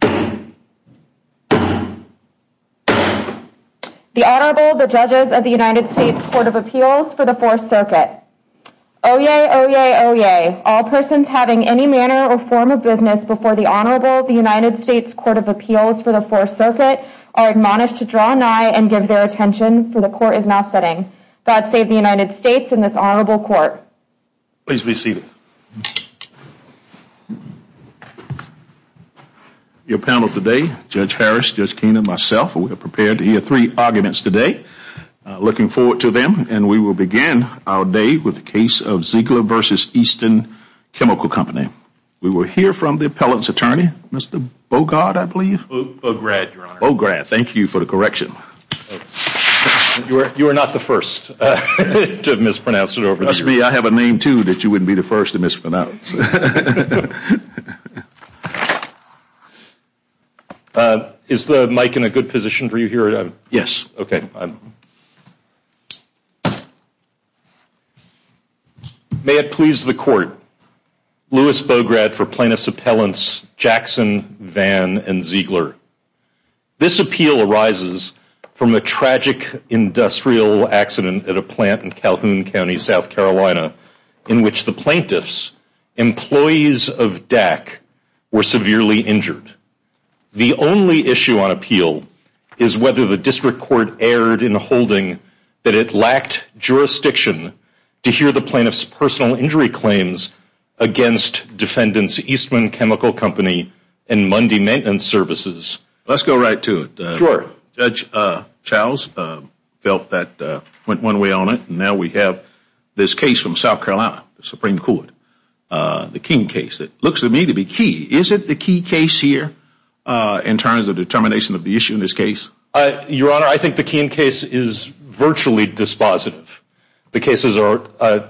The Honorable, the Judges of the United States Court of Appeals for the Fourth Circuit. Oyez! Oyez! Oyez! All persons having any manner or form of business before the Honorable, the United States Court of Appeals for the Fourth Circuit are admonished to draw nigh and give their attention, for the Court is now sitting. God save the United States and this Honorable Court. Please be seated. Your panel today, Judge Harris, Judge Keenan, myself, we are prepared to hear three arguments today. Looking forward to them and we will begin our day with the case of Zeigler v. Eastman Chemical Company. We will hear from the appellant's attorney, Mr. Bogard, I believe? Bograd, Your Honor. Bograd. Thank you for the correction. You were not the first to mispronounce it over the years. It must be I have a name too that you wouldn't be the first to mispronounce. Is the mic in a good position for you here? Yes. May it please the Court. Louis Bograd for plaintiff's appellants Jackson, Vann, and Zeigler. This appeal arises from a tragic industrial accident at a plant in Calhoun County, South Carolina, in which the plaintiff's employees of DAC were severely injured. The only issue on appeal is whether the District Court erred in holding that it lacked jurisdiction to hear the plaintiff's personal injury claims against defendants Eastman Chemical Company and Mundy Maintenance Services. Let's go right to it. Sure. Judge Charles felt that went one way on it and now we have this case from South Carolina, the Supreme Court, the King case. It looks to me to be key. Is it the key case here in terms of determination of the issue in this case? Your Honor, I think the King case is virtually dispositive. The cases are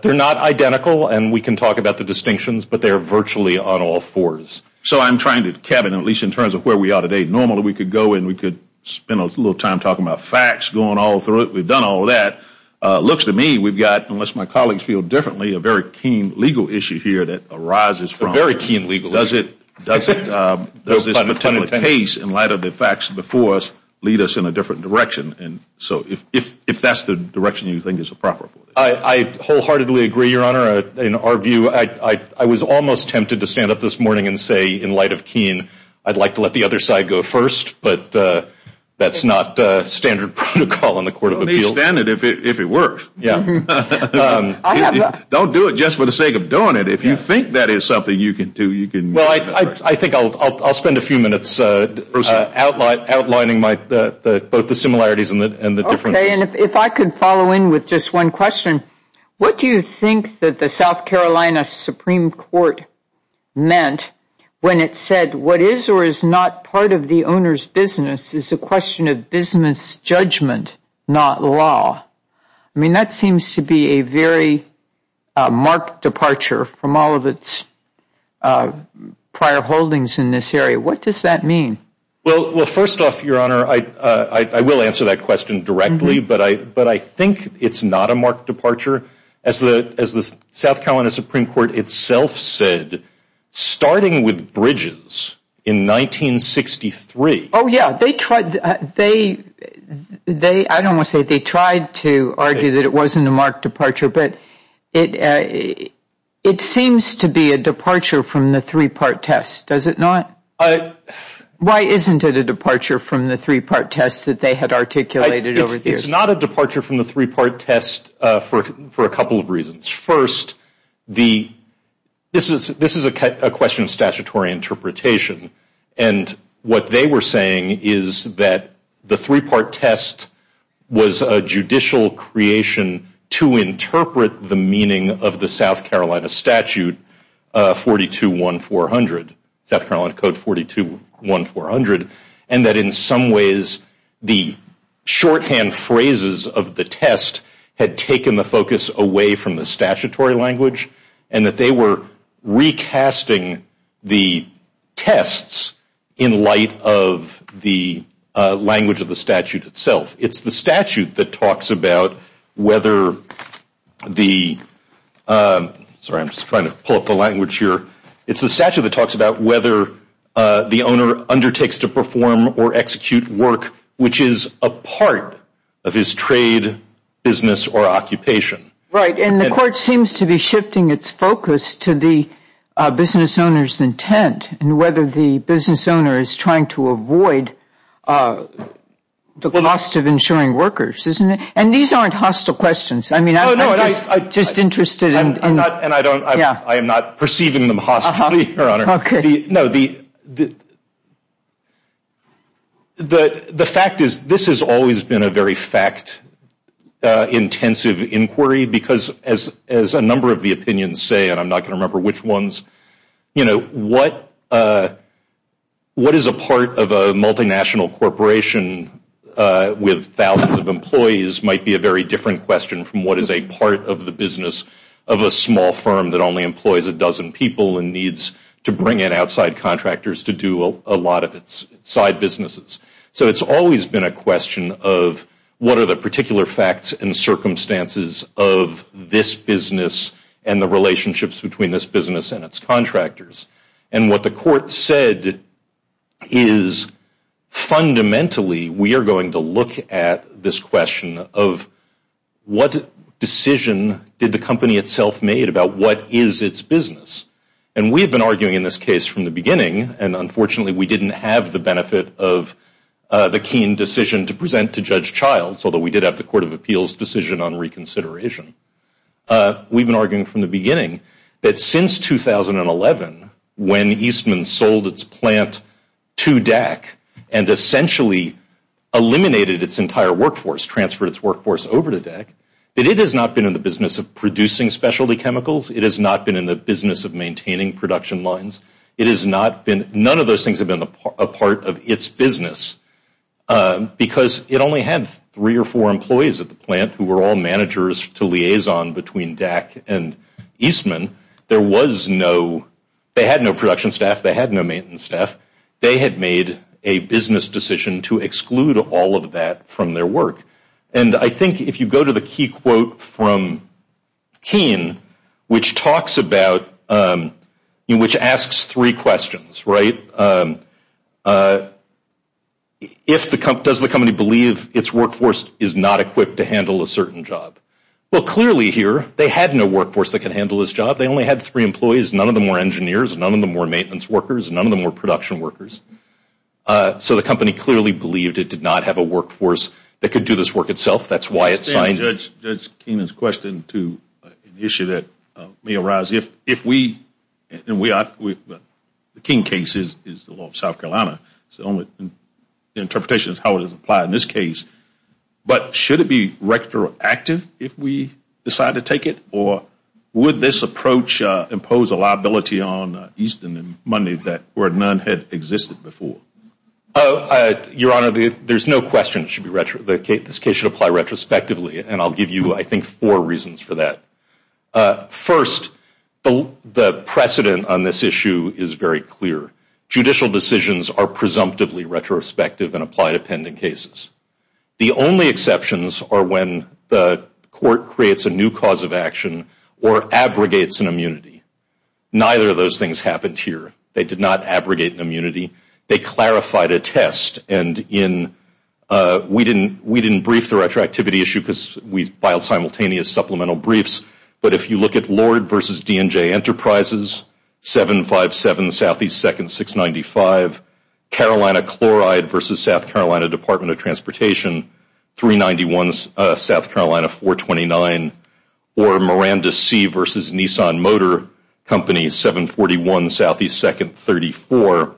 not identical and we can talk about the distinctions, but they are virtually on all fours. So I'm trying to, Kevin, at least in terms of where we are today, normally we could go and we could spend a little time talking about facts, going all through it. We've done all that. It looks to me we've got, unless my colleagues feel differently, a very keen legal issue here that arises from it. A very keen legal issue. Does this case, in light of the facts before us, lead us in a different direction? So if that's the direction you think is appropriate. I wholeheartedly agree, Your Honor. In our view, I was almost tempted to stand up this morning and say, in light of Keene, I'd like to let the other side go first, but that's not standard protocol in the Court of Appeals. Let me stand it if it works. Don't do it just for the sake of doing it. If you think that is something you can do, you can do it. Well, I think I'll spend a few minutes outlining both the similarities and the differences. Okay. And if I could follow in with just one question. What do you think that the South Carolina Supreme Court meant when it said what is or is not part of the owner's business is a question of business judgment, not law? I mean, that seems to be a very marked departure from all of its prior holdings in this area. What does that mean? Well, first off, Your Honor, I will answer that question directly, but I think it's not a marked departure. As the South Carolina Supreme Court itself said, starting with Bridges in 1963. Oh, yeah. I don't want to say they tried to argue that it wasn't a marked departure, but it seems to be a departure from the three-part test, does it not? Why isn't it a departure from the three-part test that they had articulated over the years? It's not a departure from the three-part test for a couple of reasons. First, this is a question of statutory interpretation. And what they were saying is that the three-part test was a judicial creation to interpret the meaning of the South Carolina Statute 421400, South Carolina Code 421400, and that in some ways the shorthand phrases of the test had taken the focus away from the statutory language and that they were recasting the tests in light of the language of the statute itself. It's the statute that talks about whether the owner undertakes to perform or execute work which is a part of his trade, business, or occupation. Right. And the court seems to be shifting its focus to the business owner's intent and whether the business owner is trying to avoid the cost of insuring workers, isn't it? And these aren't hostile questions. No, no. I'm just interested in. I'm not perceiving them hostile, Your Honor. Okay. The fact is this has always been a very fact-intensive inquiry because as a number of the opinions say, and I'm not going to remember which ones, what is a part of a multinational corporation with thousands of employees might be a very different question from what is a part of the business of a small firm that only employs a dozen people and needs to bring in outside contractors to do a lot of its side businesses. So it's always been a question of what are the particular facts and circumstances of this business and the relationships between this business and its contractors. And what the court said is fundamentally we are going to look at this question of what decision did the company itself made about what is its business. And we have been arguing in this case from the beginning, and unfortunately we didn't have the benefit of the keen decision to present to Judge Childs, although we did have the Court of Appeals decision on reconsideration. We've been arguing from the beginning that since 2011 when Eastman sold its plant to DEC and essentially eliminated its entire workforce, transferred its workforce over to DEC, that it has not been in the business of producing specialty chemicals. It has not been in the business of maintaining production lines. None of those things have been a part of its business because it only had three or four employees at the plant who were all managers to liaison between DEC and Eastman. They had no production staff. They had no maintenance staff. They had made a business decision to exclude all of that from their work. And I think if you go to the key quote from Keen, which talks about, which asks three questions, right? Does the company believe its workforce is not equipped to handle a certain job? Well, clearly here, they had no workforce that can handle this job. They only had three employees. None of them were engineers. None of them were maintenance workers. None of them were production workers. So the company clearly believed it did not have a workforce that could do this work itself. That's why it signed it. I understand Judge Keenan's question to an issue that may arise. If we, and we are, the Keen case is the law of South Carolina. So the interpretation is how it is applied in this case. But should it be retroactive if we decide to take it? Or would this approach impose a liability on Easton and money where none had existed before? Your Honor, there's no question this case should apply retrospectively. And I'll give you, I think, four reasons for that. First, the precedent on this issue is very clear. Judicial decisions are presumptively retrospective and apply to pending cases. The only exceptions are when the court creates a new cause of action or abrogates an immunity. Neither of those things happened here. They did not abrogate an immunity. They clarified a test. And we didn't brief the retroactivity issue because we filed simultaneous supplemental briefs. But if you look at Lord versus DNJ Enterprises, 757 Southeast 2nd 695, Carolina Chloride versus South Carolina Department of Transportation, 391 South Carolina 429, or Miranda C versus Nissan Motor Company, 741 Southeast 2nd 34,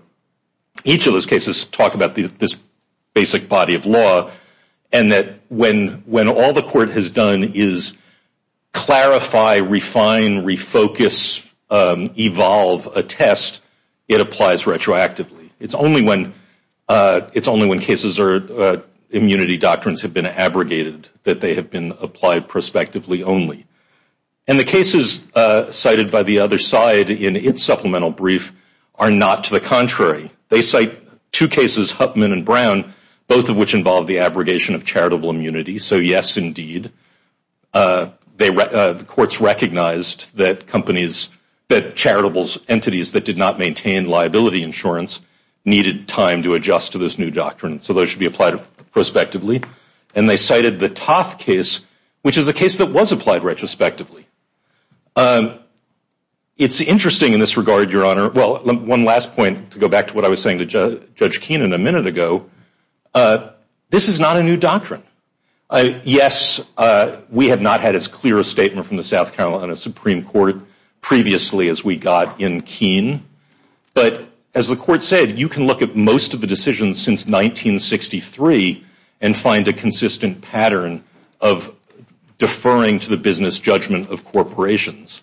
each of those cases talk about this basic body of law. And that when all the court has done is clarify, refine, refocus, evolve a test, it applies retroactively. It's only when cases or immunity doctrines have been abrogated that they have been applied prospectively only. And the cases cited by the other side in its supplemental brief are not to the contrary. They cite two cases, Huffman and Brown, both of which involve the abrogation of charitable immunity. So, yes, indeed, the courts recognized that companies, that charitable entities that did not maintain liability insurance needed time to adjust to this new doctrine. So those should be applied prospectively. And they cited the Toth case, which is a case that was applied retrospectively. It's interesting in this regard, Your Honor. Well, one last point to go back to what I was saying to Judge Keenan a minute ago. This is not a new doctrine. Yes, we have not had as clear a statement from the South Carolina Supreme Court previously as we got in Keenan. But as the court said, you can look at most of the decisions since 1963 and find a consistent pattern of deferring to the business judgment of corporations,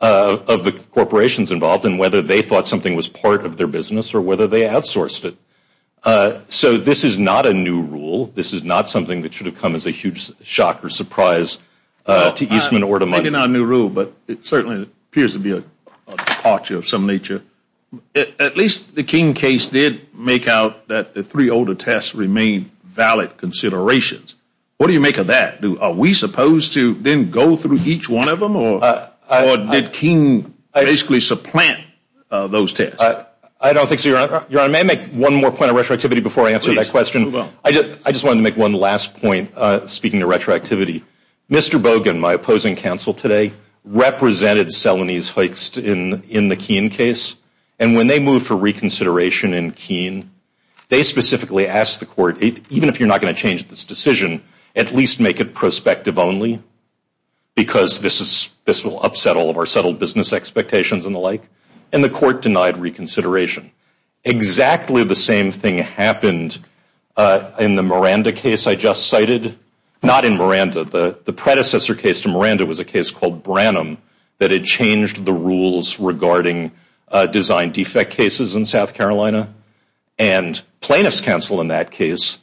of the corporations involved and whether they thought something was part of their business or whether they outsourced it. So this is not a new rule. This is not something that should have come as a huge shock or surprise to Eastman or to Money. Well, it may not be a new rule, but it certainly appears to be a departure of some nature. At least the King case did make out that the three older tests remained valid considerations. What do you make of that? Are we supposed to then go through each one of them? Or did Keenan basically supplant those tests? I don't think so, Your Honor. Your Honor, may I make one more point of retroactivity before I answer that question? Please, go on. I just wanted to make one last point speaking of retroactivity. Mr. Bogan, my opposing counsel today, represented Selanese Hoekst in the Keenan case. And when they moved for reconsideration in Keenan, they specifically asked the court, even if you're not going to change this decision, at least make it prospective only because this will upset all of our settled business expectations and the like. And the court denied reconsideration. Exactly the same thing happened in the Miranda case I just cited. Not in Miranda. The predecessor case to Miranda was a case called Branham that had changed the rules regarding design defect cases in South Carolina. And plaintiff's counsel in that case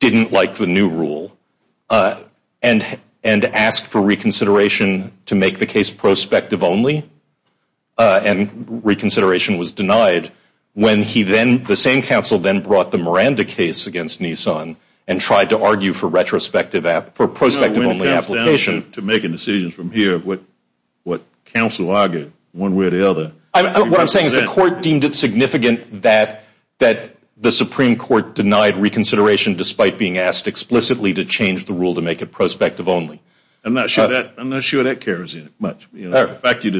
didn't like the new rule and asked for reconsideration to make the case prospective only. And reconsideration was denied when he then, the same counsel then brought the Miranda case against Nissan and tried to argue for retrospective, for prospective only application. To make a decision from here of what counsel argued one way or the other. What I'm saying is the court deemed it significant that the Supreme Court denied reconsideration despite being asked explicitly to change the rule to make it prospective only. I'm not sure that carries much. The fact that you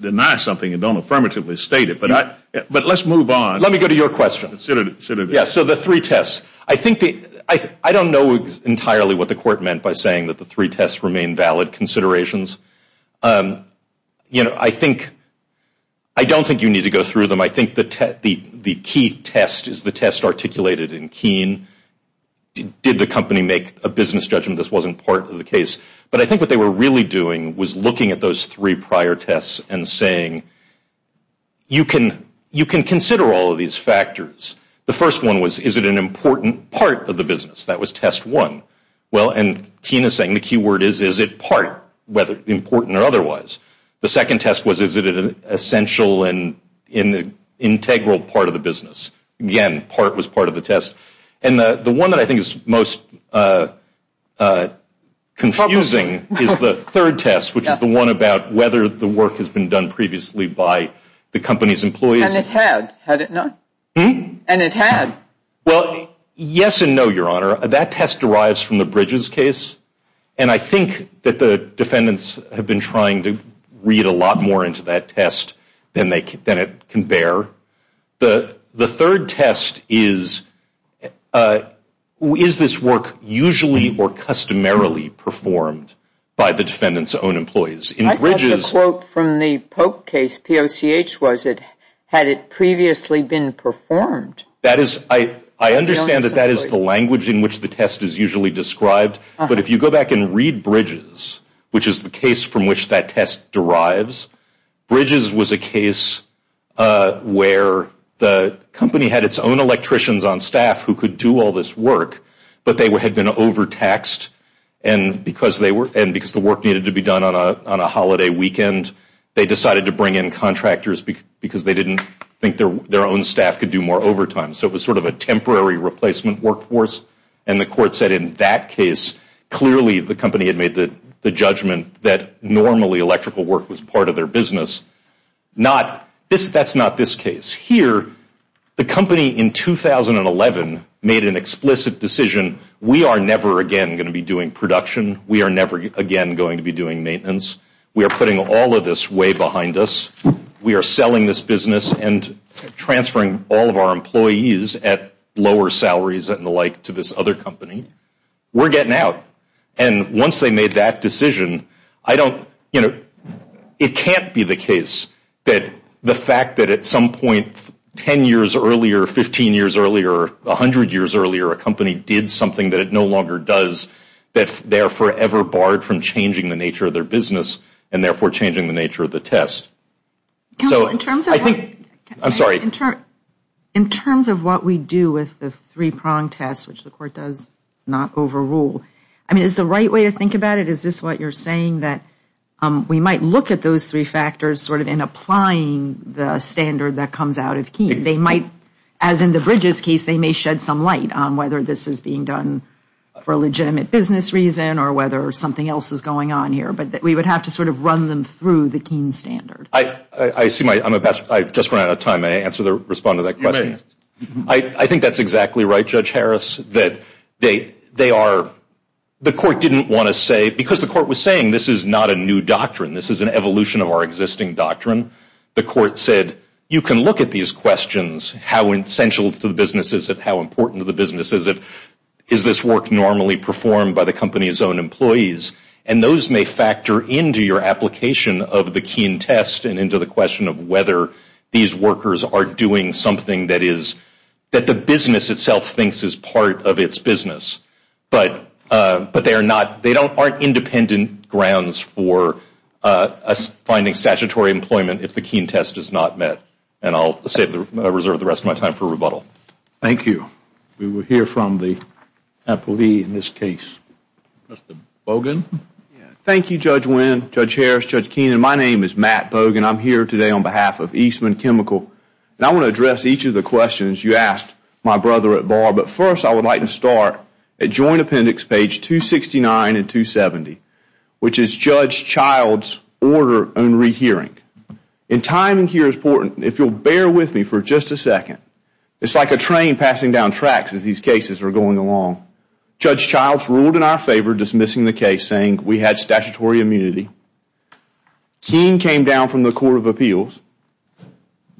deny something and don't affirmatively state it. But let's move on. Let me go to your question. Yes, so the three tests. I don't know entirely what the court meant by saying that the three tests remain valid considerations. I don't think you need to go through them. I think the key test is the test articulated in Keene. Did the company make a business judgment? This wasn't part of the case. But I think what they were really doing was looking at those three prior tests and saying you can consider all of these factors. The first one was, is it an important part of the business? That was test one. Well, and Keene is saying the key word is, is it part, whether important or otherwise. The second test was, is it an essential and integral part of the business? Again, part was part of the test. And the one that I think is most confusing is the third test, which is the one about whether the work has been done previously by the company's employees. And it had, had it not? And it had. Well, yes and no, Your Honor. That test derives from the Bridges case. And I think that the defendants have been trying to read a lot more into that test than it can bear. The third test is, is this work usually or customarily performed by the defendant's own employees? In Bridges. I thought the quote from the Pope case, POCH was it, had it previously been performed? That is, I understand that that is the language in which the test is usually described. But if you go back and read Bridges, which is the case from which that test derives, Bridges was a case where the company had its own electricians on staff who could do all this work, but they had been overtaxed. And because they were, and because the work needed to be done on a holiday weekend, they decided to bring in contractors because they didn't think their own staff could do more overtime. So it was sort of a temporary replacement workforce. And the court said in that case, clearly the company had made the judgment that normally electrical work was part of their business. Not, that's not this case. Here, the company in 2011 made an explicit decision, we are never again going to be doing production. We are never again going to be doing maintenance. We are putting all of this way behind us. We are selling this business and transferring all of our employees at lower salaries and the like to this other company. We're getting out. And once they made that decision, I don't, you know, it can't be the case that the fact that at some point 10 years earlier, 15 years earlier, 100 years earlier, a company did something that it no longer does, that they are forever barred from changing the nature of their business and therefore changing the nature of the test. So I think, I'm sorry. In terms of what we do with the three-prong test, which the court does not overrule, I mean, is the right way to think about it? Is this what you're saying that we might look at those three factors sort of in applying the standard that comes out of Keene? They might, as in the Bridges case, they may shed some light on whether this is being done for a legitimate business reason or whether something else is going on here. But we would have to sort of run them through the Keene standard. I see my, I'm about, I just ran out of time. May I answer the, respond to that question? You may. I think that's exactly right, Judge Harris, that they are, the court didn't want to say, because the court was saying this is not a new doctrine. This is an evolution of our existing doctrine. The court said, you can look at these questions. How essential to the business is it? How important to the business is it? Is this work normally performed by the company's own employees? And those may factor into your application of the Keene test and into the question of whether these workers are doing something that is, that the business itself thinks is part of its business. But they are not, they aren't independent grounds for finding statutory employment if the Keene test is not met. And I'll reserve the rest of my time for rebuttal. Thank you. We will hear from the appellee in this case. Mr. Bogan. Thank you, Judge Wynn, Judge Harris, Judge Keenan. My name is Matt Bogan. I'm here today on behalf of Eastman Chemical. And I want to address each of the questions you asked my brother at bar. But first, I would like to start at Joint Appendix page 269 and 270, which is Judge Child's order on rehearing. And timing here is important. If you'll bear with me for just a second, it's like a train passing down tracks as these cases are going along. Judge Child's ruled in our favor, dismissing the case, saying we had statutory immunity. Keene came down from the Court of Appeals.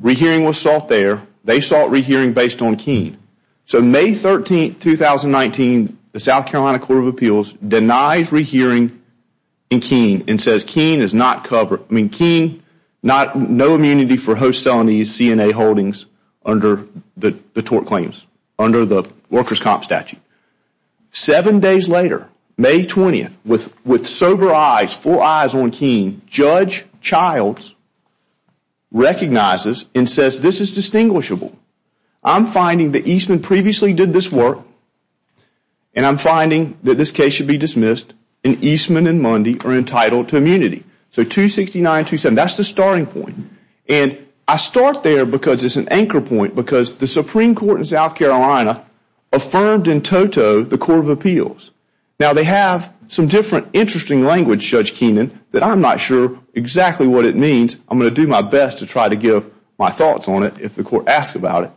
Rehearing was sought there. They sought rehearing based on Keene. So May 13, 2019, the South Carolina Court of Appeals denies rehearing in Keene and says Keene is not covered. I mean, Keene, no immunity for host celenies, CNA holdings under the tort claims, under the workers' comp statute. Seven days later, May 20, with sober eyes, four eyes on Keene, Judge Child's recognizes and says this is distinguishable. I'm finding that Eastman previously did this work, and I'm finding that this case should be dismissed, and Eastman and Mundy are entitled to immunity. So 269 and 270, that's the starting point. And I start there because it's an anchor point, because the Supreme Court in South Carolina affirmed in toto the Court of Appeals. Now, they have some different interesting language, Judge Keenan, that I'm not sure exactly what it means. I'm going to do my best to try to give my thoughts on it if the Court asks about it.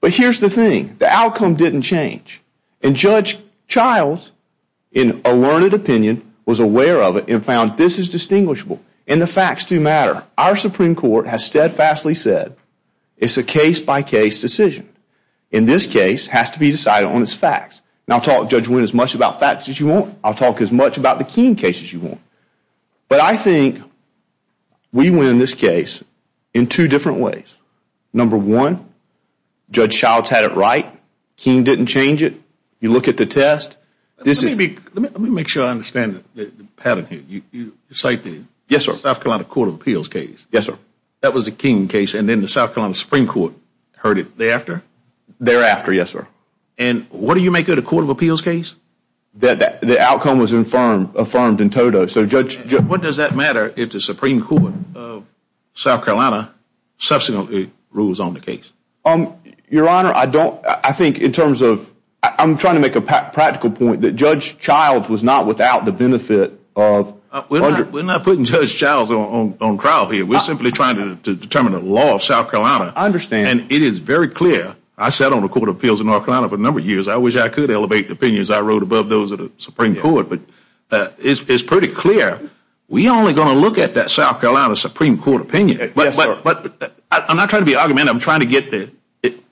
But here's the thing. The outcome didn't change, and Judge Child's, in a learned opinion, was aware of it and found this is distinguishable, and the facts do matter. Our Supreme Court has steadfastly said it's a case-by-case decision. In this case, it has to be decided on its facts. And I'll talk, Judge Wynn, as much about facts as you want. I'll talk as much about the Keene case as you want. But I think we win this case in two different ways. Number one, Judge Child's had it right. Keene didn't change it. You look at the test. Let me make sure I understand the pattern here. You cite the South Carolina Court of Appeals case. Yes, sir. That was the Keene case, and then the South Carolina Supreme Court heard it thereafter? Thereafter, yes, sir. And what do you make of the Court of Appeals case? The outcome was affirmed in toto. What does that matter if the Supreme Court of South Carolina subsequently rules on the case? Your Honor, I think in terms of – I'm trying to make a practical point that Judge Child's was not without the benefit of – We're not putting Judge Child's on trial here. We're simply trying to determine the law of South Carolina. I understand. And it is very clear. I sat on the Court of Appeals in North Carolina for a number of years. I wish I could elevate the opinions I wrote above those of the Supreme Court. But it's pretty clear. We're only going to look at that South Carolina Supreme Court opinion. Yes, sir. But I'm not trying to be argumentative. I'm trying to get the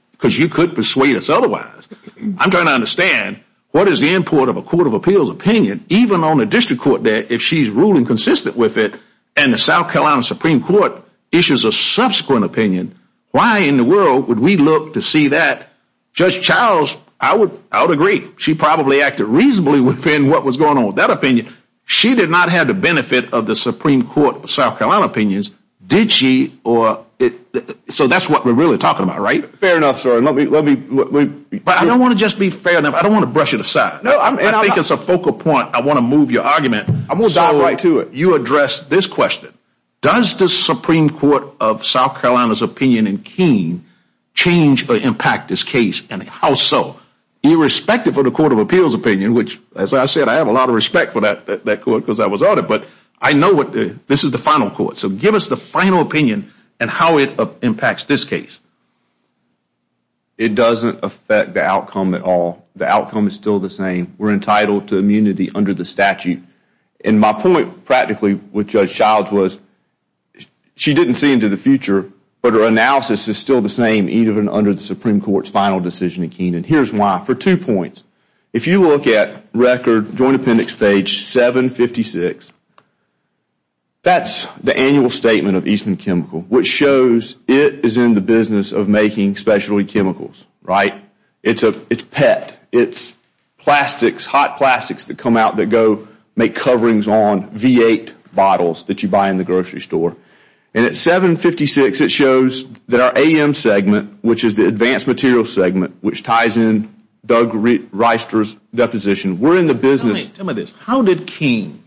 – because you could persuade us otherwise. I'm trying to understand what is the import of a Court of Appeals opinion, even on the district court there, if she's ruling consistent with it and the South Carolina Supreme Court issues a subsequent opinion, why in the world would we look to see that? Judge Child's, I would agree. She probably acted reasonably within what was going on with that opinion. She did not have the benefit of the Supreme Court South Carolina opinions, did she? So that's what we're really talking about, right? Fair enough, sir. But I don't want to just be fair enough. I don't want to brush it aside. I think it's a focal point. I want to move your argument. So you address this question. Does the Supreme Court of South Carolina's opinion in Keene change or impact this case? And how so? Irrespective of the Court of Appeals opinion, which, as I said, I have a lot of respect for that court because I was on it, but I know this is the final court. So give us the final opinion and how it impacts this case. It doesn't affect the outcome at all. The outcome is still the same. We're entitled to immunity under the statute. And my point practically with Judge Child's was she didn't see into the future, but her analysis is still the same, even under the Supreme Court's final decision in Keene, and here's why. If you look at record Joint Appendix page 756, that's the annual statement of Eastman Chemical, which shows it is in the business of making specialty chemicals, right? It's PET. It's plastics, hot plastics that come out that go make coverings on V8 bottles that you buy in the grocery store. And at 756, it shows that our AM segment, which is the advanced material segment, which ties in Doug Reister's deposition. We're in the business. Tell me this. How did Keene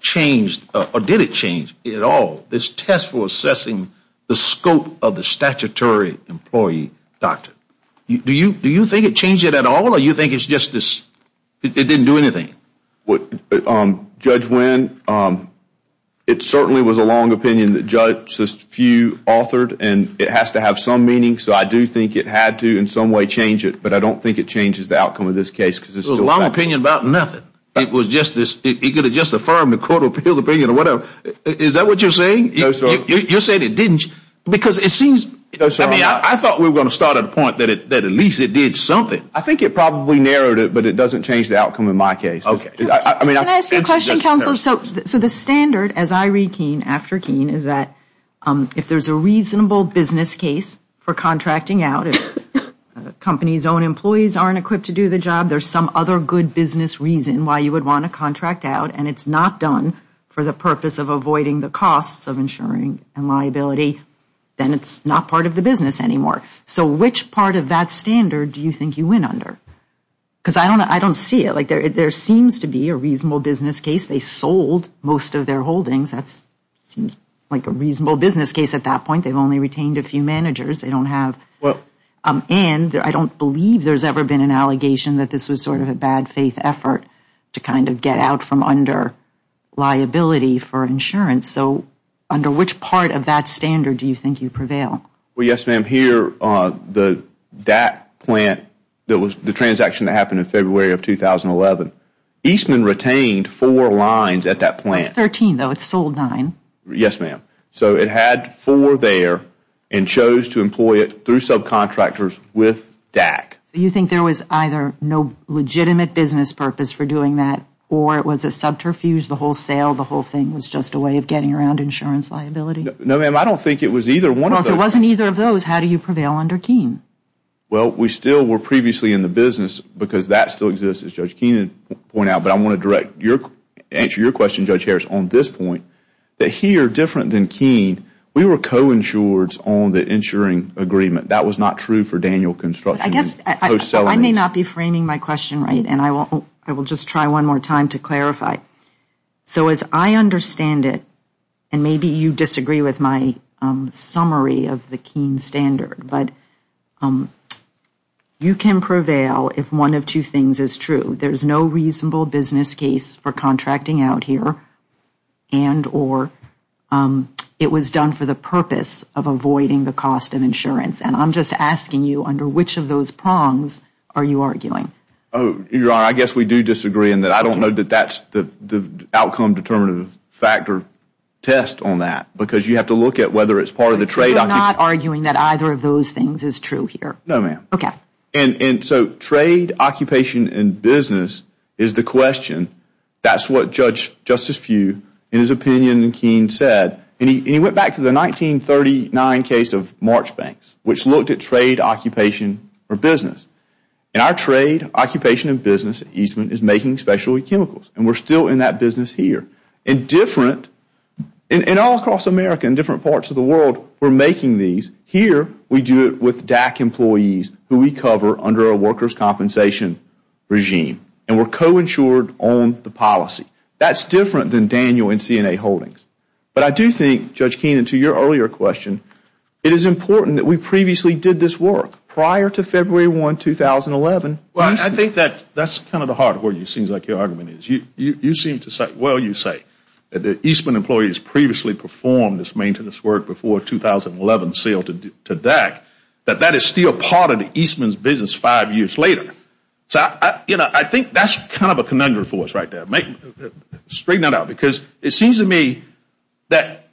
change, or did it change at all, this test for assessing the scope of the statutory employee doctrine? Do you think it changed it at all, or do you think it didn't do anything? Judge Wynn, it certainly was a long opinion that Judge Few authored, and it has to have some meaning. So I do think it had to in some way change it, but I don't think it changes the outcome of this case. It was a long opinion about nothing. It could have just affirmed the Court of Appeals opinion or whatever. Is that what you're saying? You're saying it didn't? I thought we were going to start at a point that at least it did something. I think it probably narrowed it, but it doesn't change the outcome in my case. Can I ask you a question, Counselor? So the standard, as I read Keene after Keene, is that if there's a reasonable business case for contracting out, if a company's own employees aren't equipped to do the job, there's some other good business reason why you would want to contract out, and it's not done for the purpose of avoiding the costs of insuring and liability, then it's not part of the business anymore. So which part of that standard do you think you win under? Because I don't see it. There seems to be a reasonable business case. They sold most of their holdings. That seems like a reasonable business case at that point. They've only retained a few managers. And I don't believe there's ever been an allegation that this was sort of a bad faith effort to kind of get out from under liability for insurance. So under which part of that standard do you think you prevail? Well, yes, ma'am. Here, that plant, the transaction that happened in February of 2011, Eastman retained four lines at that plant. That's 13, though. It sold nine. Yes, ma'am. So it had four there and chose to employ it through subcontractors with DAC. So you think there was either no legitimate business purpose for doing that or it was a subterfuge, the wholesale, the whole thing was just a way of getting around insurance liability? No, ma'am. I don't think it was either one of those. Well, if it wasn't either of those, how do you prevail under Keene? Well, we still were previously in the business because that still exists, as Judge Keene pointed out. But I want to answer your question, Judge Harris, on this point that here, different than Keene, we were coinsured on the insuring agreement. That was not true for Daniel Construction. I guess I may not be framing my question right, and I will just try one more time to clarify. So as I understand it, and maybe you disagree with my summary of the Keene standard, but you can prevail if one of two things is true. There's no reasonable business case for contracting out here and or it was done for the purpose of avoiding the cost of insurance. And I'm just asking you under which of those prongs are you arguing? Your Honor, I guess we do disagree in that I don't know that that's the outcome determinative factor test on that because you have to look at whether it's part of the trade. You're not arguing that either of those things is true here? No, ma'am. Okay. And so trade, occupation, and business is the question. That's what Justice Few, in his opinion, and Keene said. And he went back to the 1939 case of March Banks, which looked at trade, occupation, or business. And our trade, occupation, and business at Eastman is making specialty chemicals, and we're still in that business here. And all across America and different parts of the world, we're making these. Here, we do it with DAC employees who we cover under a workers' compensation regime. And we're co-insured on the policy. That's different than Daniel and CNA holdings. But I do think, Judge Keene, to your earlier question, it is important that we previously did this work prior to February 1, 2011. Well, I think that's kind of the heart of where it seems like your argument is. You seem to say, well, you say, that the Eastman employees previously performed this maintenance work before 2011 sale to DAC, that that is still part of the Eastman's business five years later. So I think that's kind of a conundrum for us right there. Straighten that out. Because it seems to me that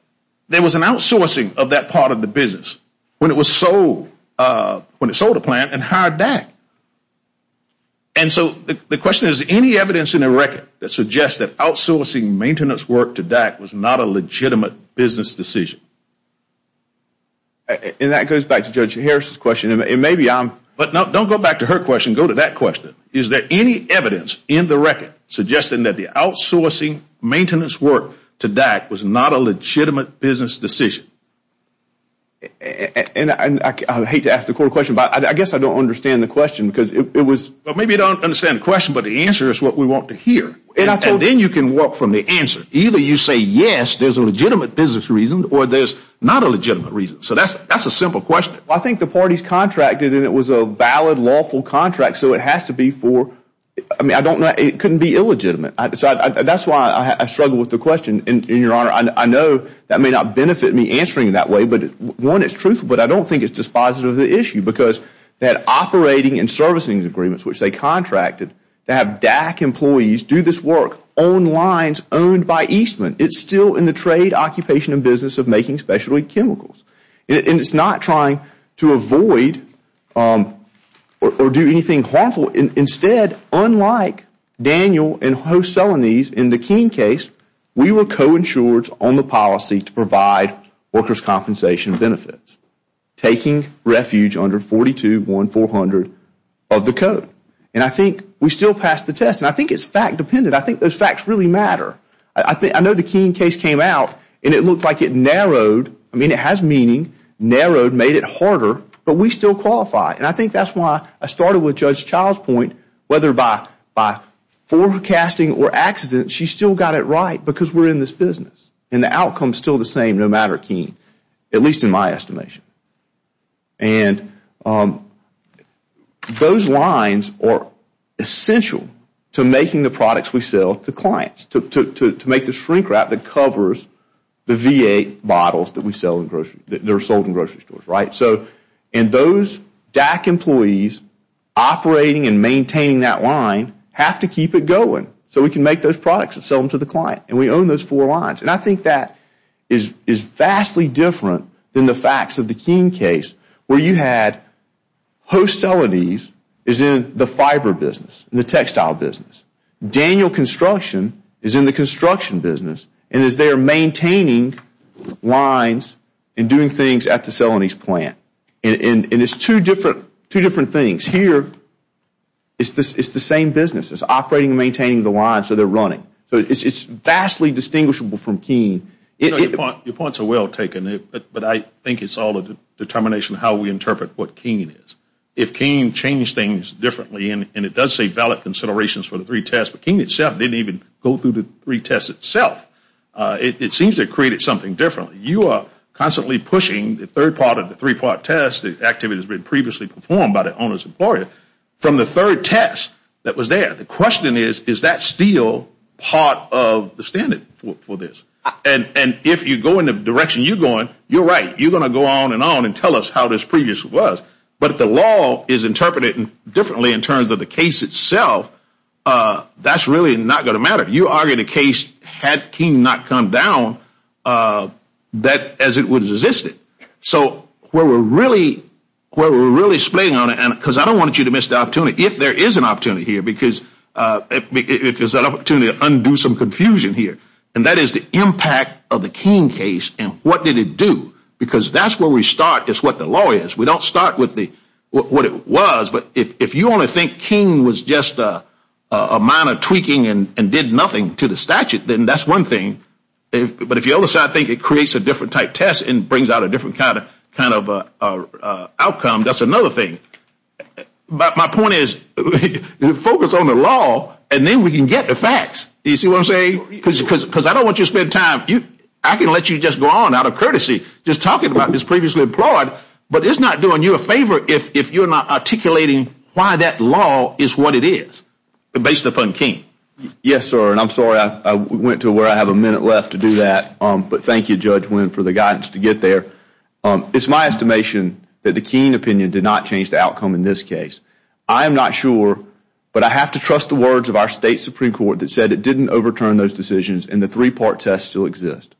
there was an outsourcing of that part of the business when it sold a plant and hired DAC. And so the question is, is there any evidence in the record that suggests that outsourcing maintenance work to DAC was not a legitimate business decision? And that goes back to Judge Harris' question. But don't go back to her question. Go to that question. Is there any evidence in the record suggesting that the outsourcing maintenance work to DAC was not a legitimate business decision? And I hate to ask the court a question, but I guess I don't understand the question. Well, maybe you don't understand the question, but the answer is what we want to hear. And then you can work from the answer. Either you say, yes, there's a legitimate business reason, or there's not a legitimate reason. So that's a simple question. I think the parties contracted, and it was a valid, lawful contract. So it has to be for, I mean, I don't know. It couldn't be illegitimate. That's why I struggle with the question, and, Your Honor, I know that may not benefit me answering it that way. But, one, it's truthful, but I don't think it's dispositive of the issue because that operating and servicing agreements, which they contracted, to have DAC employees do this work on lines owned by Eastman, it's still in the trade, occupation, and business of making specialty chemicals. And it's not trying to avoid or do anything harmful. Instead, unlike Daniel and Host-Celenese in the Keene case, we were co-insured on the policy to provide workers' compensation benefits, taking refuge under 421400 of the code. And I think we still passed the test. And I think it's fact-dependent. I think those facts really matter. I know the Keene case came out, and it looked like it narrowed. I mean, it has meaning, narrowed, made it harder, but we still qualify. And I think that's why I started with Judge Child's point, whether by forecasting or accident, she still got it right because we're in this business. And the outcome is still the same, no matter Keene, at least in my estimation. And those lines are essential to making the products we sell to clients, to make the shrink wrap that covers the V8 bottles that are sold in grocery stores. And those DAC employees operating and maintaining that line have to keep it going so we can make those products and sell them to the client. And we own those four lines. And I think that is vastly different than the facts of the Keene case where you had host Celanese is in the fiber business and the textile business. Daniel Construction is in the construction business and is there maintaining lines and doing things at the Celanese plant. And it's two different things. Here, it's the same business. It's operating and maintaining the lines so they're running. So it's vastly distinguishable from Keene. Your points are well taken. But I think it's all a determination of how we interpret what Keene is. If Keene changed things differently, and it does say valid considerations for the three tests, but Keene itself didn't even go through the three tests itself. It seems they created something different. You are constantly pushing the third part of the three-part test, the activity that has been previously performed by the owner's employer, from the third test that was there. The question is, is that still part of the standard for this? And if you go in the direction you're going, you're right. You're going to go on and on and tell us how this previously was. But if the law is interpreted differently in terms of the case itself, that's really not going to matter. You argue the case had Keene not come down as it would have existed. So where we're really splitting on it, because I don't want you to miss the opportunity, if there is an opportunity here, because if there's an opportunity to undo some confusion here, and that is the impact of the Keene case and what did it do, because that's where we start is what the law is. We don't start with what it was, but if you only think Keene was just a minor tweaking and did nothing to the statute, then that's one thing. But if the other side thinks it creates a different type test and brings out a different kind of outcome, that's another thing. But my point is focus on the law and then we can get the facts. Do you see what I'm saying? Because I don't want you to spend time. I can let you just go on out of courtesy just talking about this previously employed, but it's not doing you a favor if you're not articulating why that law is what it is based upon Keene. Yes, sir, and I'm sorry I went to where I have a minute left to do that, but thank you, Judge Wynn, for the guidance to get there. It's my estimation that the Keene opinion did not change the outcome in this case. I am not sure, but I have to trust the words of our State Supreme Court that said it didn't overturn those decisions and the three-part test still exists.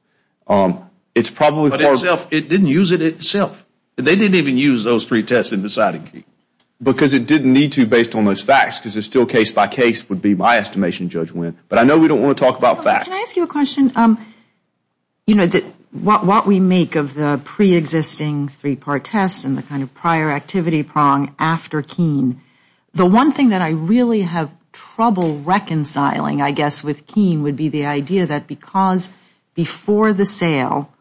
But it didn't use it itself. They didn't even use those three tests in deciding Keene. Because it didn't need to, based on those facts, because it's still case by case would be my estimation, Judge Wynn. But I know we don't want to talk about facts. Can I ask you a question? You know, what we make of the preexisting three-part test and the kind of prior activity prong after Keene, the one thing that I really have trouble reconciling, I guess, with Keene would be the idea that because before the sale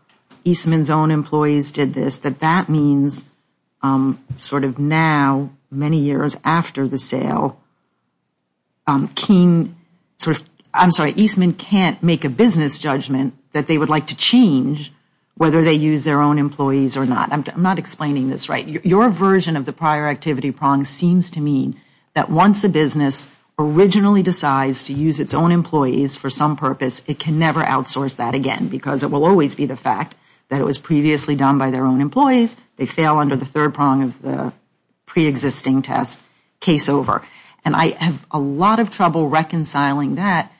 Eastman's own employees did this, that that means sort of now, many years after the sale, Eastman can't make a business judgment that they would like to change whether they use their own employees or not. I'm not explaining this right. Your version of the prior activity prong seems to mean that once a business originally decides to use its own employees for some purpose, it can never outsource that again because it will always be the fact that it was previously done by their own employees, they fail under the third prong of the preexisting test, case over. And I have a lot of trouble reconciling that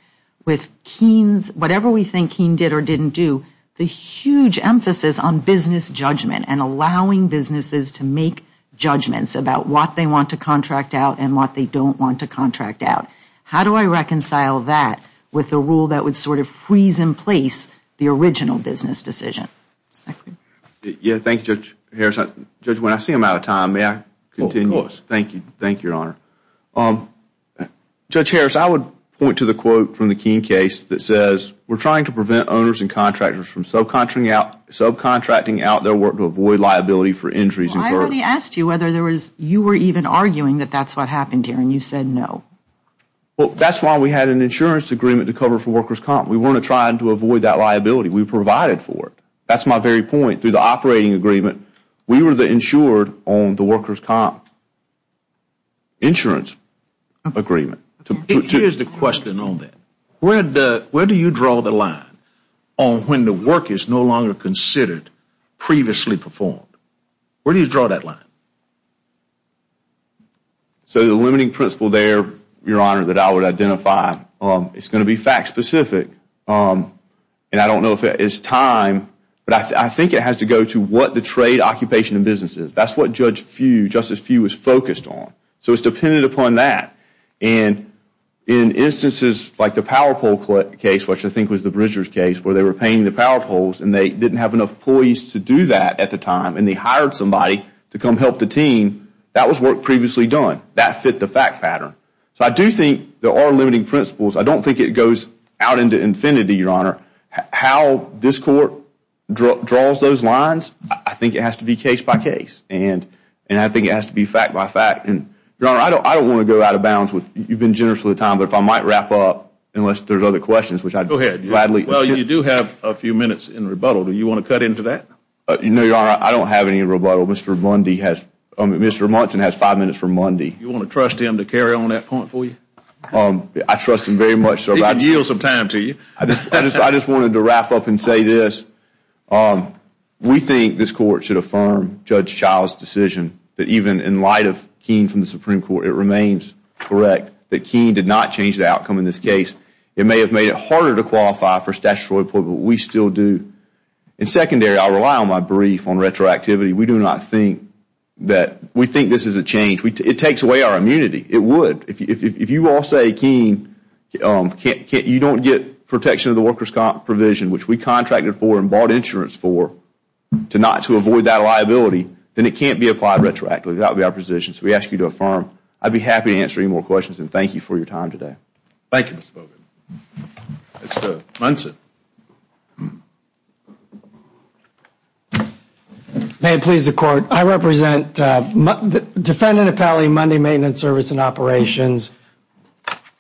with Keene's, whatever we think Keene did or didn't do, the huge emphasis on business judgment and allowing businesses to make judgments about what they want to contract out and what they don't want to contract out. How do I reconcile that with a rule that would sort of freeze in place the original business decision? Thank you, Judge Harris. Judge, when I see I'm out of time, may I continue? Of course. Thank you, Your Honor. Judge Harris, I would point to the quote from the Keene case that says, we're trying to prevent owners and contractors from subcontracting out their work to avoid liability for injuries incurred. I already asked you whether you were even arguing that that's what happened here and you said no. That's why we had an insurance agreement to cover for workers' comp. We weren't trying to avoid that liability. We provided for it. That's my very point. Through the operating agreement, we were the insured on the workers' comp insurance agreement. Here's the question on that. Where do you draw the line on when the work is no longer considered previously performed? Where do you draw that line? The limiting principle there, Your Honor, that I would identify, it's going to be fact specific, and I don't know if it's time, but I think it has to go to what the trade occupation of business is. That's what Justice Few was focused on. So it's dependent upon that. In instances like the PowerPoll case, which I think was the Bridgers case, where they were paying the PowerPolls and they didn't have enough employees to do that at the time and they hired somebody to come help the team, that was work previously done. That fit the fact pattern. So I do think there are limiting principles. I don't think it goes out into infinity, Your Honor. How this Court draws those lines, I think it has to be case by case, and I think it has to be fact by fact. Your Honor, I don't want to go out of bounds. You've been generous with the time, but if I might wrap up, unless there's other questions. Go ahead. Well, you do have a few minutes in rebuttal. Do you want to cut into that? No, Your Honor, I don't have any rebuttal. Mr. Munson has five minutes for Mundy. You want to trust him to carry on that point for you? I trust him very much so. He can yield some time to you. I just wanted to wrap up and say this. We think this Court should affirm Judge Child's decision that even in light of Keene from the Supreme Court, it remains correct that Keene did not change the outcome in this case. It may have made it harder to qualify for statutory employment, but we still do. And secondary, I rely on my brief on retroactivity. We do not think that we think this is a change. It takes away our immunity. It would. If you all say Keene, you don't get protection of the worker's comp provision, which we contracted for and bought insurance for, to not to avoid that liability, then it can't be applied retroactively. That would be our position. So we ask you to affirm. I'd be happy to answer any more questions, and thank you for your time today. Thank you, Mr. Boggan. Mr. Munson. May it please the Court. I represent Defendant Appellee Monday Maintenance Service and Operations,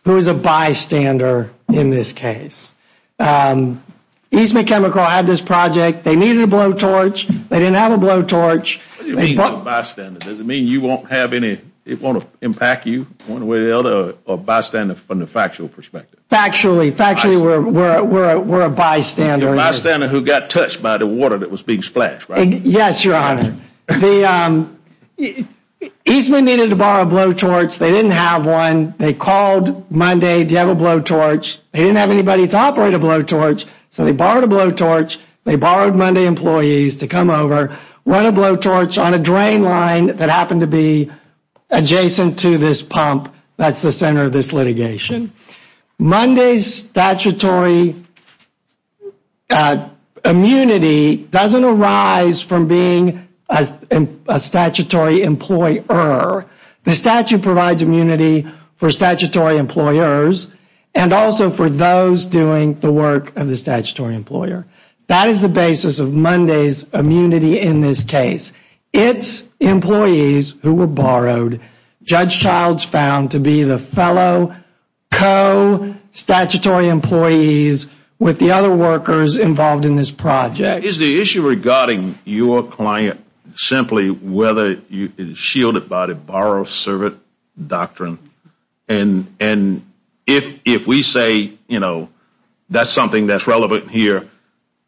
who is a bystander in this case. Eastman Chemical had this project. They needed a blowtorch. They didn't have a blowtorch. What do you mean bystander? Does it mean you won't have any, it won't impact you, going the way the other bystander from the factual perspective? Factually. Factually, we're a bystander. You're a bystander who got touched by the water that was being splashed, right? Yes, Your Honor. Eastman needed to borrow a blowtorch. They didn't have one. They called Monday, do you have a blowtorch? They didn't have anybody to operate a blowtorch, so they borrowed a blowtorch. They borrowed Monday employees to come over, run a blowtorch on a drain line that happened to be adjacent to this pump that's the center of this litigation. Monday's statutory immunity doesn't arise from being a statutory employer. The statute provides immunity for statutory employers and also for those doing the work of the statutory employer. That is the basis of Monday's immunity in this case. It's employees who were borrowed, Judge Childs found to be the fellow co-statutory employees with the other workers involved in this project. Is the issue regarding your client simply whether it's shielded by the borrow-servant doctrine? And if we say, you know, that's something that's relevant here,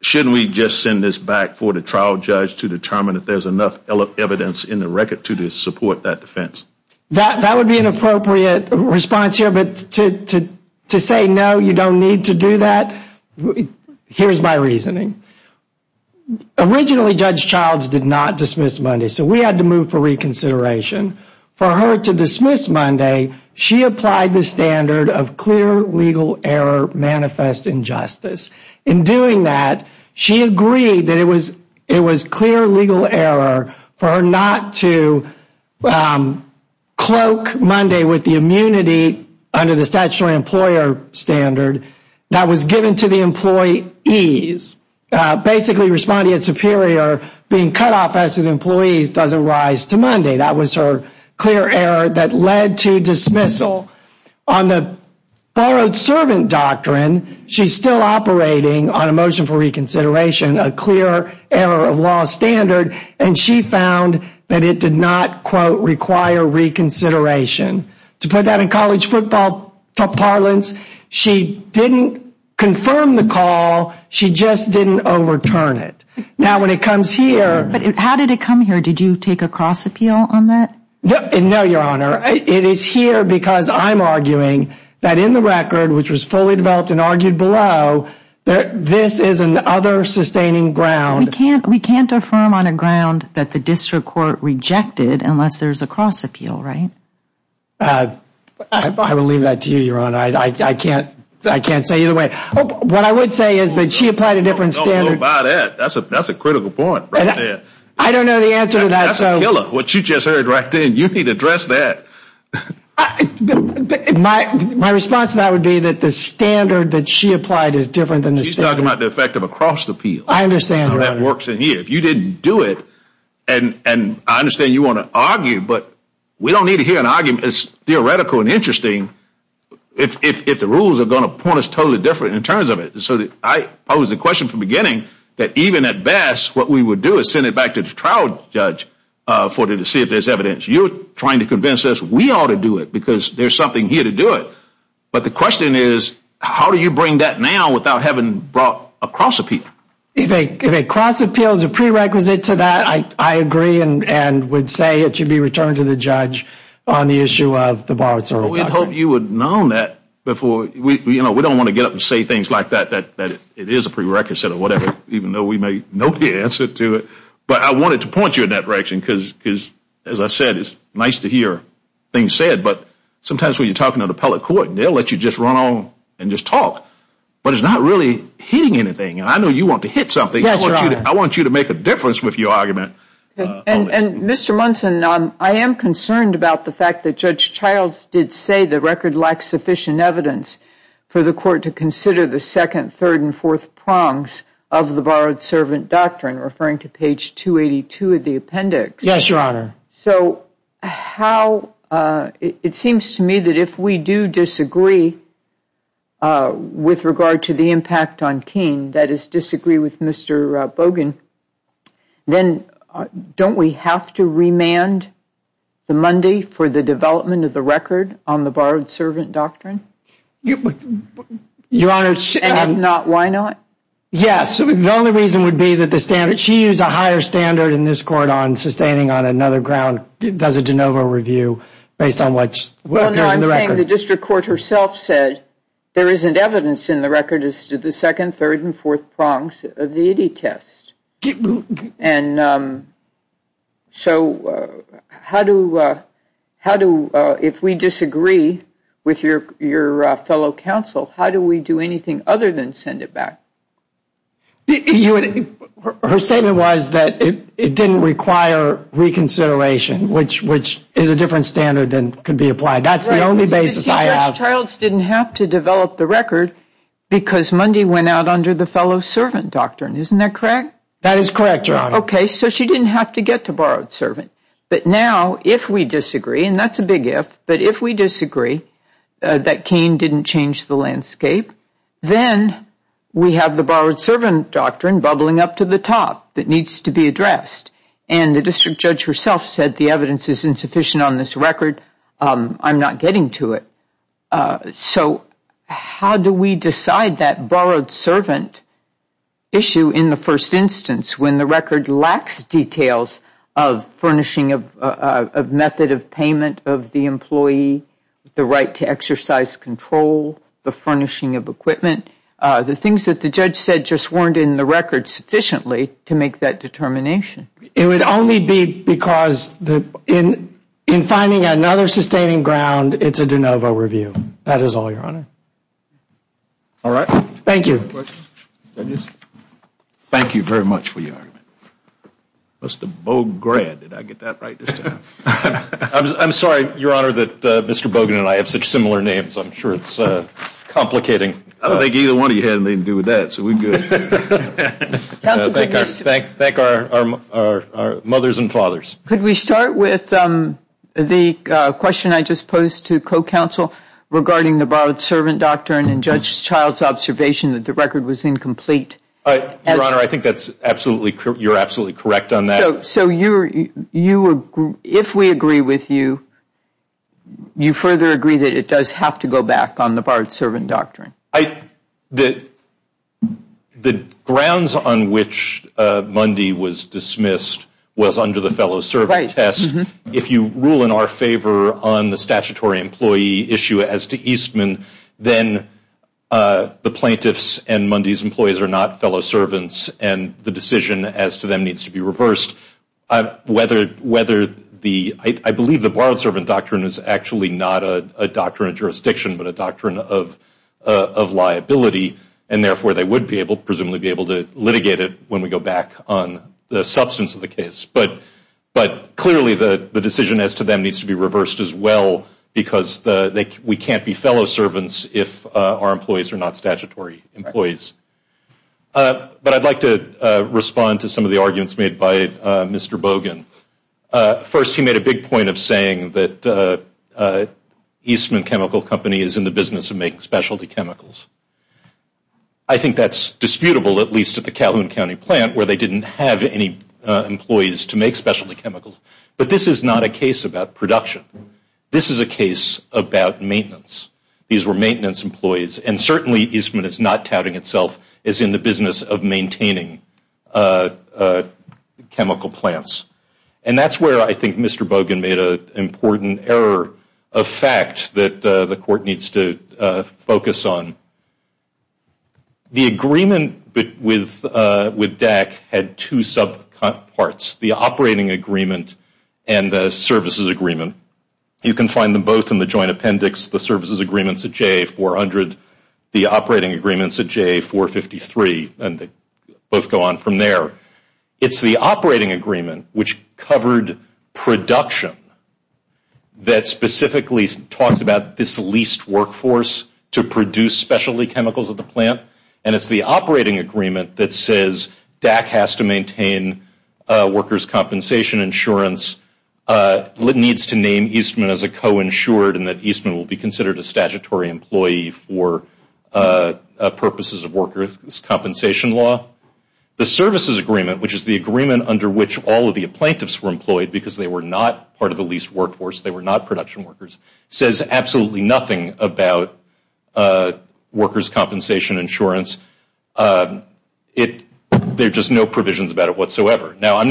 shouldn't we just send this back for the trial judge to determine if there's enough evidence in the record to support that defense? That would be an appropriate response here, but to say no, you don't need to do that, here's my reasoning. Originally, Judge Childs did not dismiss Monday, so we had to move for reconsideration. For her to dismiss Monday, she applied the standard of clear legal error manifest injustice. In doing that, she agreed that it was clear legal error for her not to cloak Monday with the immunity under the statutory employer standard that was given to the employees. Basically, responding at superior, being cut off as an employee doesn't rise to Monday. That was her clear error that led to dismissal. On the borrowed-servant doctrine, she's still operating on a motion for reconsideration, a clear error of law standard, and she found that it did not, quote, require reconsideration. To put that in college football parlance, she didn't confirm the call, she just didn't overturn it. Now, when it comes here... But how did it come here? Did you take a cross-appeal on that? No, Your Honor. It is here because I'm arguing that in the record, which was fully developed and argued below, this is another sustaining ground. We can't affirm on a ground that the district court rejected unless there's a cross-appeal, right? I will leave that to you, Your Honor. I can't say either way. What I would say is that she applied a different standard. Don't go by that. That's a critical point right there. I don't know the answer to that. That's a killer, what you just heard right then. You need to address that. My response to that would be that the standard that she applied is different than the standard. She's talking about the effect of a cross-appeal. I understand, Your Honor. That works in here. If you didn't do it, and I understand you want to argue, but we don't need to hear an argument that's theoretical and interesting if the rules are going to point us totally different in terms of it. So I posed the question from the beginning that even at best, what we would do is send it back to the trial judge for them to see if there's evidence. You're trying to convince us we ought to do it because there's something here to do it. But the question is, how do you bring that now without having brought a cross-appeal? If a cross-appeal is a prerequisite to that, I agree and would say it should be returned to the judge on the issue of the borrower-to-recovery. Well, we'd hope you would have known that before. We don't want to get up and say things like that, that it is a prerequisite or whatever, even though we may know the answer to it. But I wanted to point you in that direction because, as I said, it's nice to hear things said. But sometimes when you're talking to an appellate court, they'll let you just run on and just talk. But it's not really hitting anything. I know you want to hit something. I want you to make a difference with your argument. And, Mr. Munson, I am concerned about the fact that Judge Childs did say the record lacks sufficient evidence for the court to consider the second, third, and fourth prongs of the borrowed-servant doctrine, referring to page 282 of the appendix. Yes, Your Honor. So it seems to me that if we do disagree with regard to the impact on Keene, that is, disagree with Mr. Bogan, then don't we have to remand the Monday for the development of the record on the borrowed-servant doctrine? Your Honor, it should not. And if not, why not? Yes. The only reason would be that she used a higher standard in this court on sustaining on another ground, does a de novo review, based on what appears in the record. Well, no, I'm saying the district court herself said there isn't evidence in the record as to the second, third, and fourth prongs of the IDI test. And so how do, if we disagree with your fellow counsel, how do we do anything other than send it back? Her statement was that it didn't require reconsideration, which is a different standard than could be applied. That's the only basis I have. Right. It seems that the child didn't have to develop the record because Monday went out under the fellow-servant doctrine. Isn't that correct? That is correct, Your Honor. Okay. So she didn't have to get to borrowed-servant. But now, if we disagree, and that's a big if, but if we disagree that Cain didn't change the landscape, then we have the borrowed-servant doctrine bubbling up to the top that needs to be addressed. And the district judge herself said the evidence is insufficient on this record. I'm not getting to it. So how do we decide that borrowed-servant issue in the first instance when the record lacks details of furnishing of method of payment of the employee, the right to exercise control, the furnishing of equipment, the things that the judge said just weren't in the record sufficiently to make that determination? It would only be because in finding another sustaining ground, it's a de novo review. That is all, Your Honor. All right. Thank you. Any other questions? Thank you very much for your argument. Mr. Bograd, did I get that right this time? I'm sorry, Your Honor, that Mr. Bograd and I have such similar names. I'm sure it's complicating. I don't think either one of you had anything to do with that, so we're good. Thank our mothers and fathers. Could we start with the question I just posed to co-counsel regarding the borrowed-servant doctrine and Judge Child's observation that the record was incomplete? Your Honor, I think you're absolutely correct on that. So if we agree with you, you further agree that it does have to go back on the borrowed-servant doctrine? The grounds on which Mundy was dismissed was under the fellow-servant test. If you rule in our favor on the statutory employee issue as to Eastman, then the plaintiffs and Mundy's employees are not fellow-servants and the decision as to them needs to be reversed. I believe the borrowed-servant doctrine is actually not a doctrine of jurisdiction but a doctrine of liability, and therefore they would presumably be able to litigate it when we go back on the substance of the case. But clearly the decision as to them needs to be reversed as well because we can't be fellow-servants if our employees are not statutory employees. But I'd like to respond to some of the arguments made by Mr. Bogan. First, he made a big point of saying that Eastman Chemical Company is in the business of making specialty chemicals. I think that's disputable, at least at the Calhoun County plant, where they didn't have any employees to make specialty chemicals. But this is not a case about production. This is a case about maintenance. These were maintenance employees. And certainly Eastman is not touting itself as in the business of maintaining chemical plants. And that's where I think Mr. Bogan made an important error of fact that the court needs to focus on. The agreement with DAC had two sub-parts, the operating agreement and the services agreement. You can find them both in the joint appendix, the services agreements at JA 400, the operating agreements at JA 453, and they both go on from there. It's the operating agreement which covered production that specifically talks about this leased workforce to produce specialty chemicals at the plant. And it's the operating agreement that says DAC has to maintain workers' compensation insurance, needs to name Eastman as a co-insured, and that Eastman will be considered a statutory employee for purposes of workers' compensation law. The services agreement, which is the agreement under which all of the plaintiffs were employed because they were not part of the leased workforce, they were not production workers, says absolutely nothing about workers' compensation insurance. There are just no provisions about it whatsoever. Now, I'm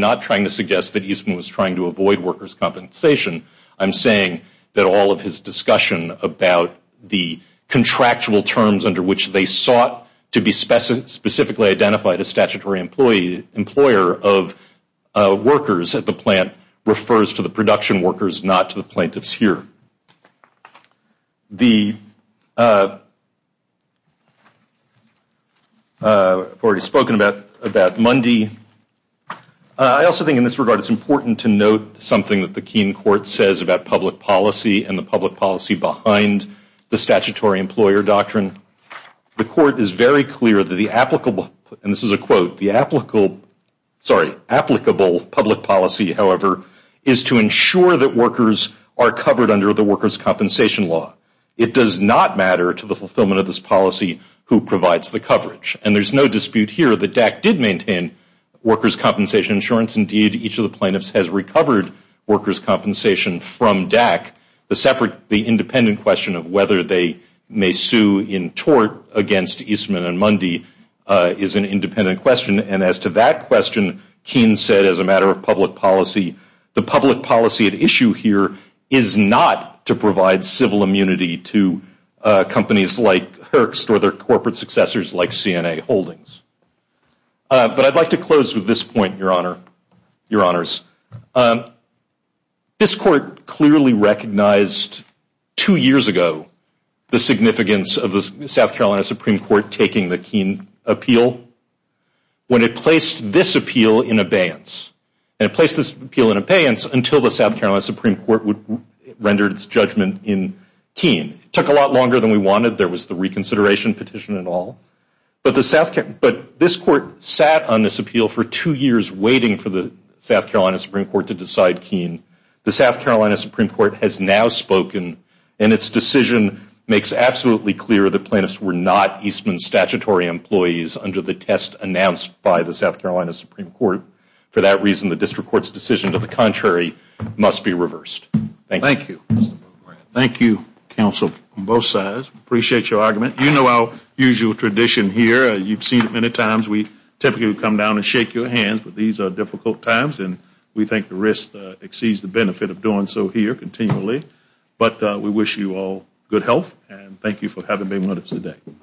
not trying to suggest that Eastman was trying to avoid workers' compensation. I'm saying that all of his discussion about the contractual terms under which they sought to be specifically identified as statutory employer of workers at the plant refers to the production workers, not to the plaintiffs here. I've already spoken about Mundy. I also think in this regard it's important to note something that the Keene Court says about public policy and the public policy behind the statutory employer doctrine. The court is very clear that the applicable public policy, however, is to ensure that workers are covered under the workers' compensation law. It does not matter to the fulfillment of this policy who provides the coverage. And there's no dispute here that DAC did maintain workers' compensation insurance. Indeed, each of the plaintiffs has recovered workers' compensation from DAC. The independent question of whether they may sue in tort against Eastman and Mundy is an independent question. And as to that question, Keene said as a matter of public policy, the public policy at issue here is not to provide civil immunity to companies like Herx or their corporate successors like CNA Holdings. But I'd like to close with this point, Your Honor, Your Honors. This court clearly recognized two years ago the significance of the South Carolina Supreme Court taking the Keene appeal when it placed this appeal in abeyance. And it placed this appeal in abeyance until the South Carolina Supreme Court rendered its judgment in Keene. It took a lot longer than we wanted. There was the reconsideration petition and all. But this court sat on this appeal for two years waiting for the South Carolina Supreme Court to decide Keene. The South Carolina Supreme Court has now spoken. And its decision makes absolutely clear the plaintiffs were not Eastman statutory employees under the test announced by the South Carolina Supreme Court. For that reason, the district court's decision to the contrary must be reversed. Thank you. Thank you, counsel, on both sides. Appreciate your argument. You know our usual tradition here. You've seen it many times. We typically come down and shake your hands. But these are difficult times. And we think the risk exceeds the benefit of doing so here continually. But we wish you all good health. And thank you for having me with us today.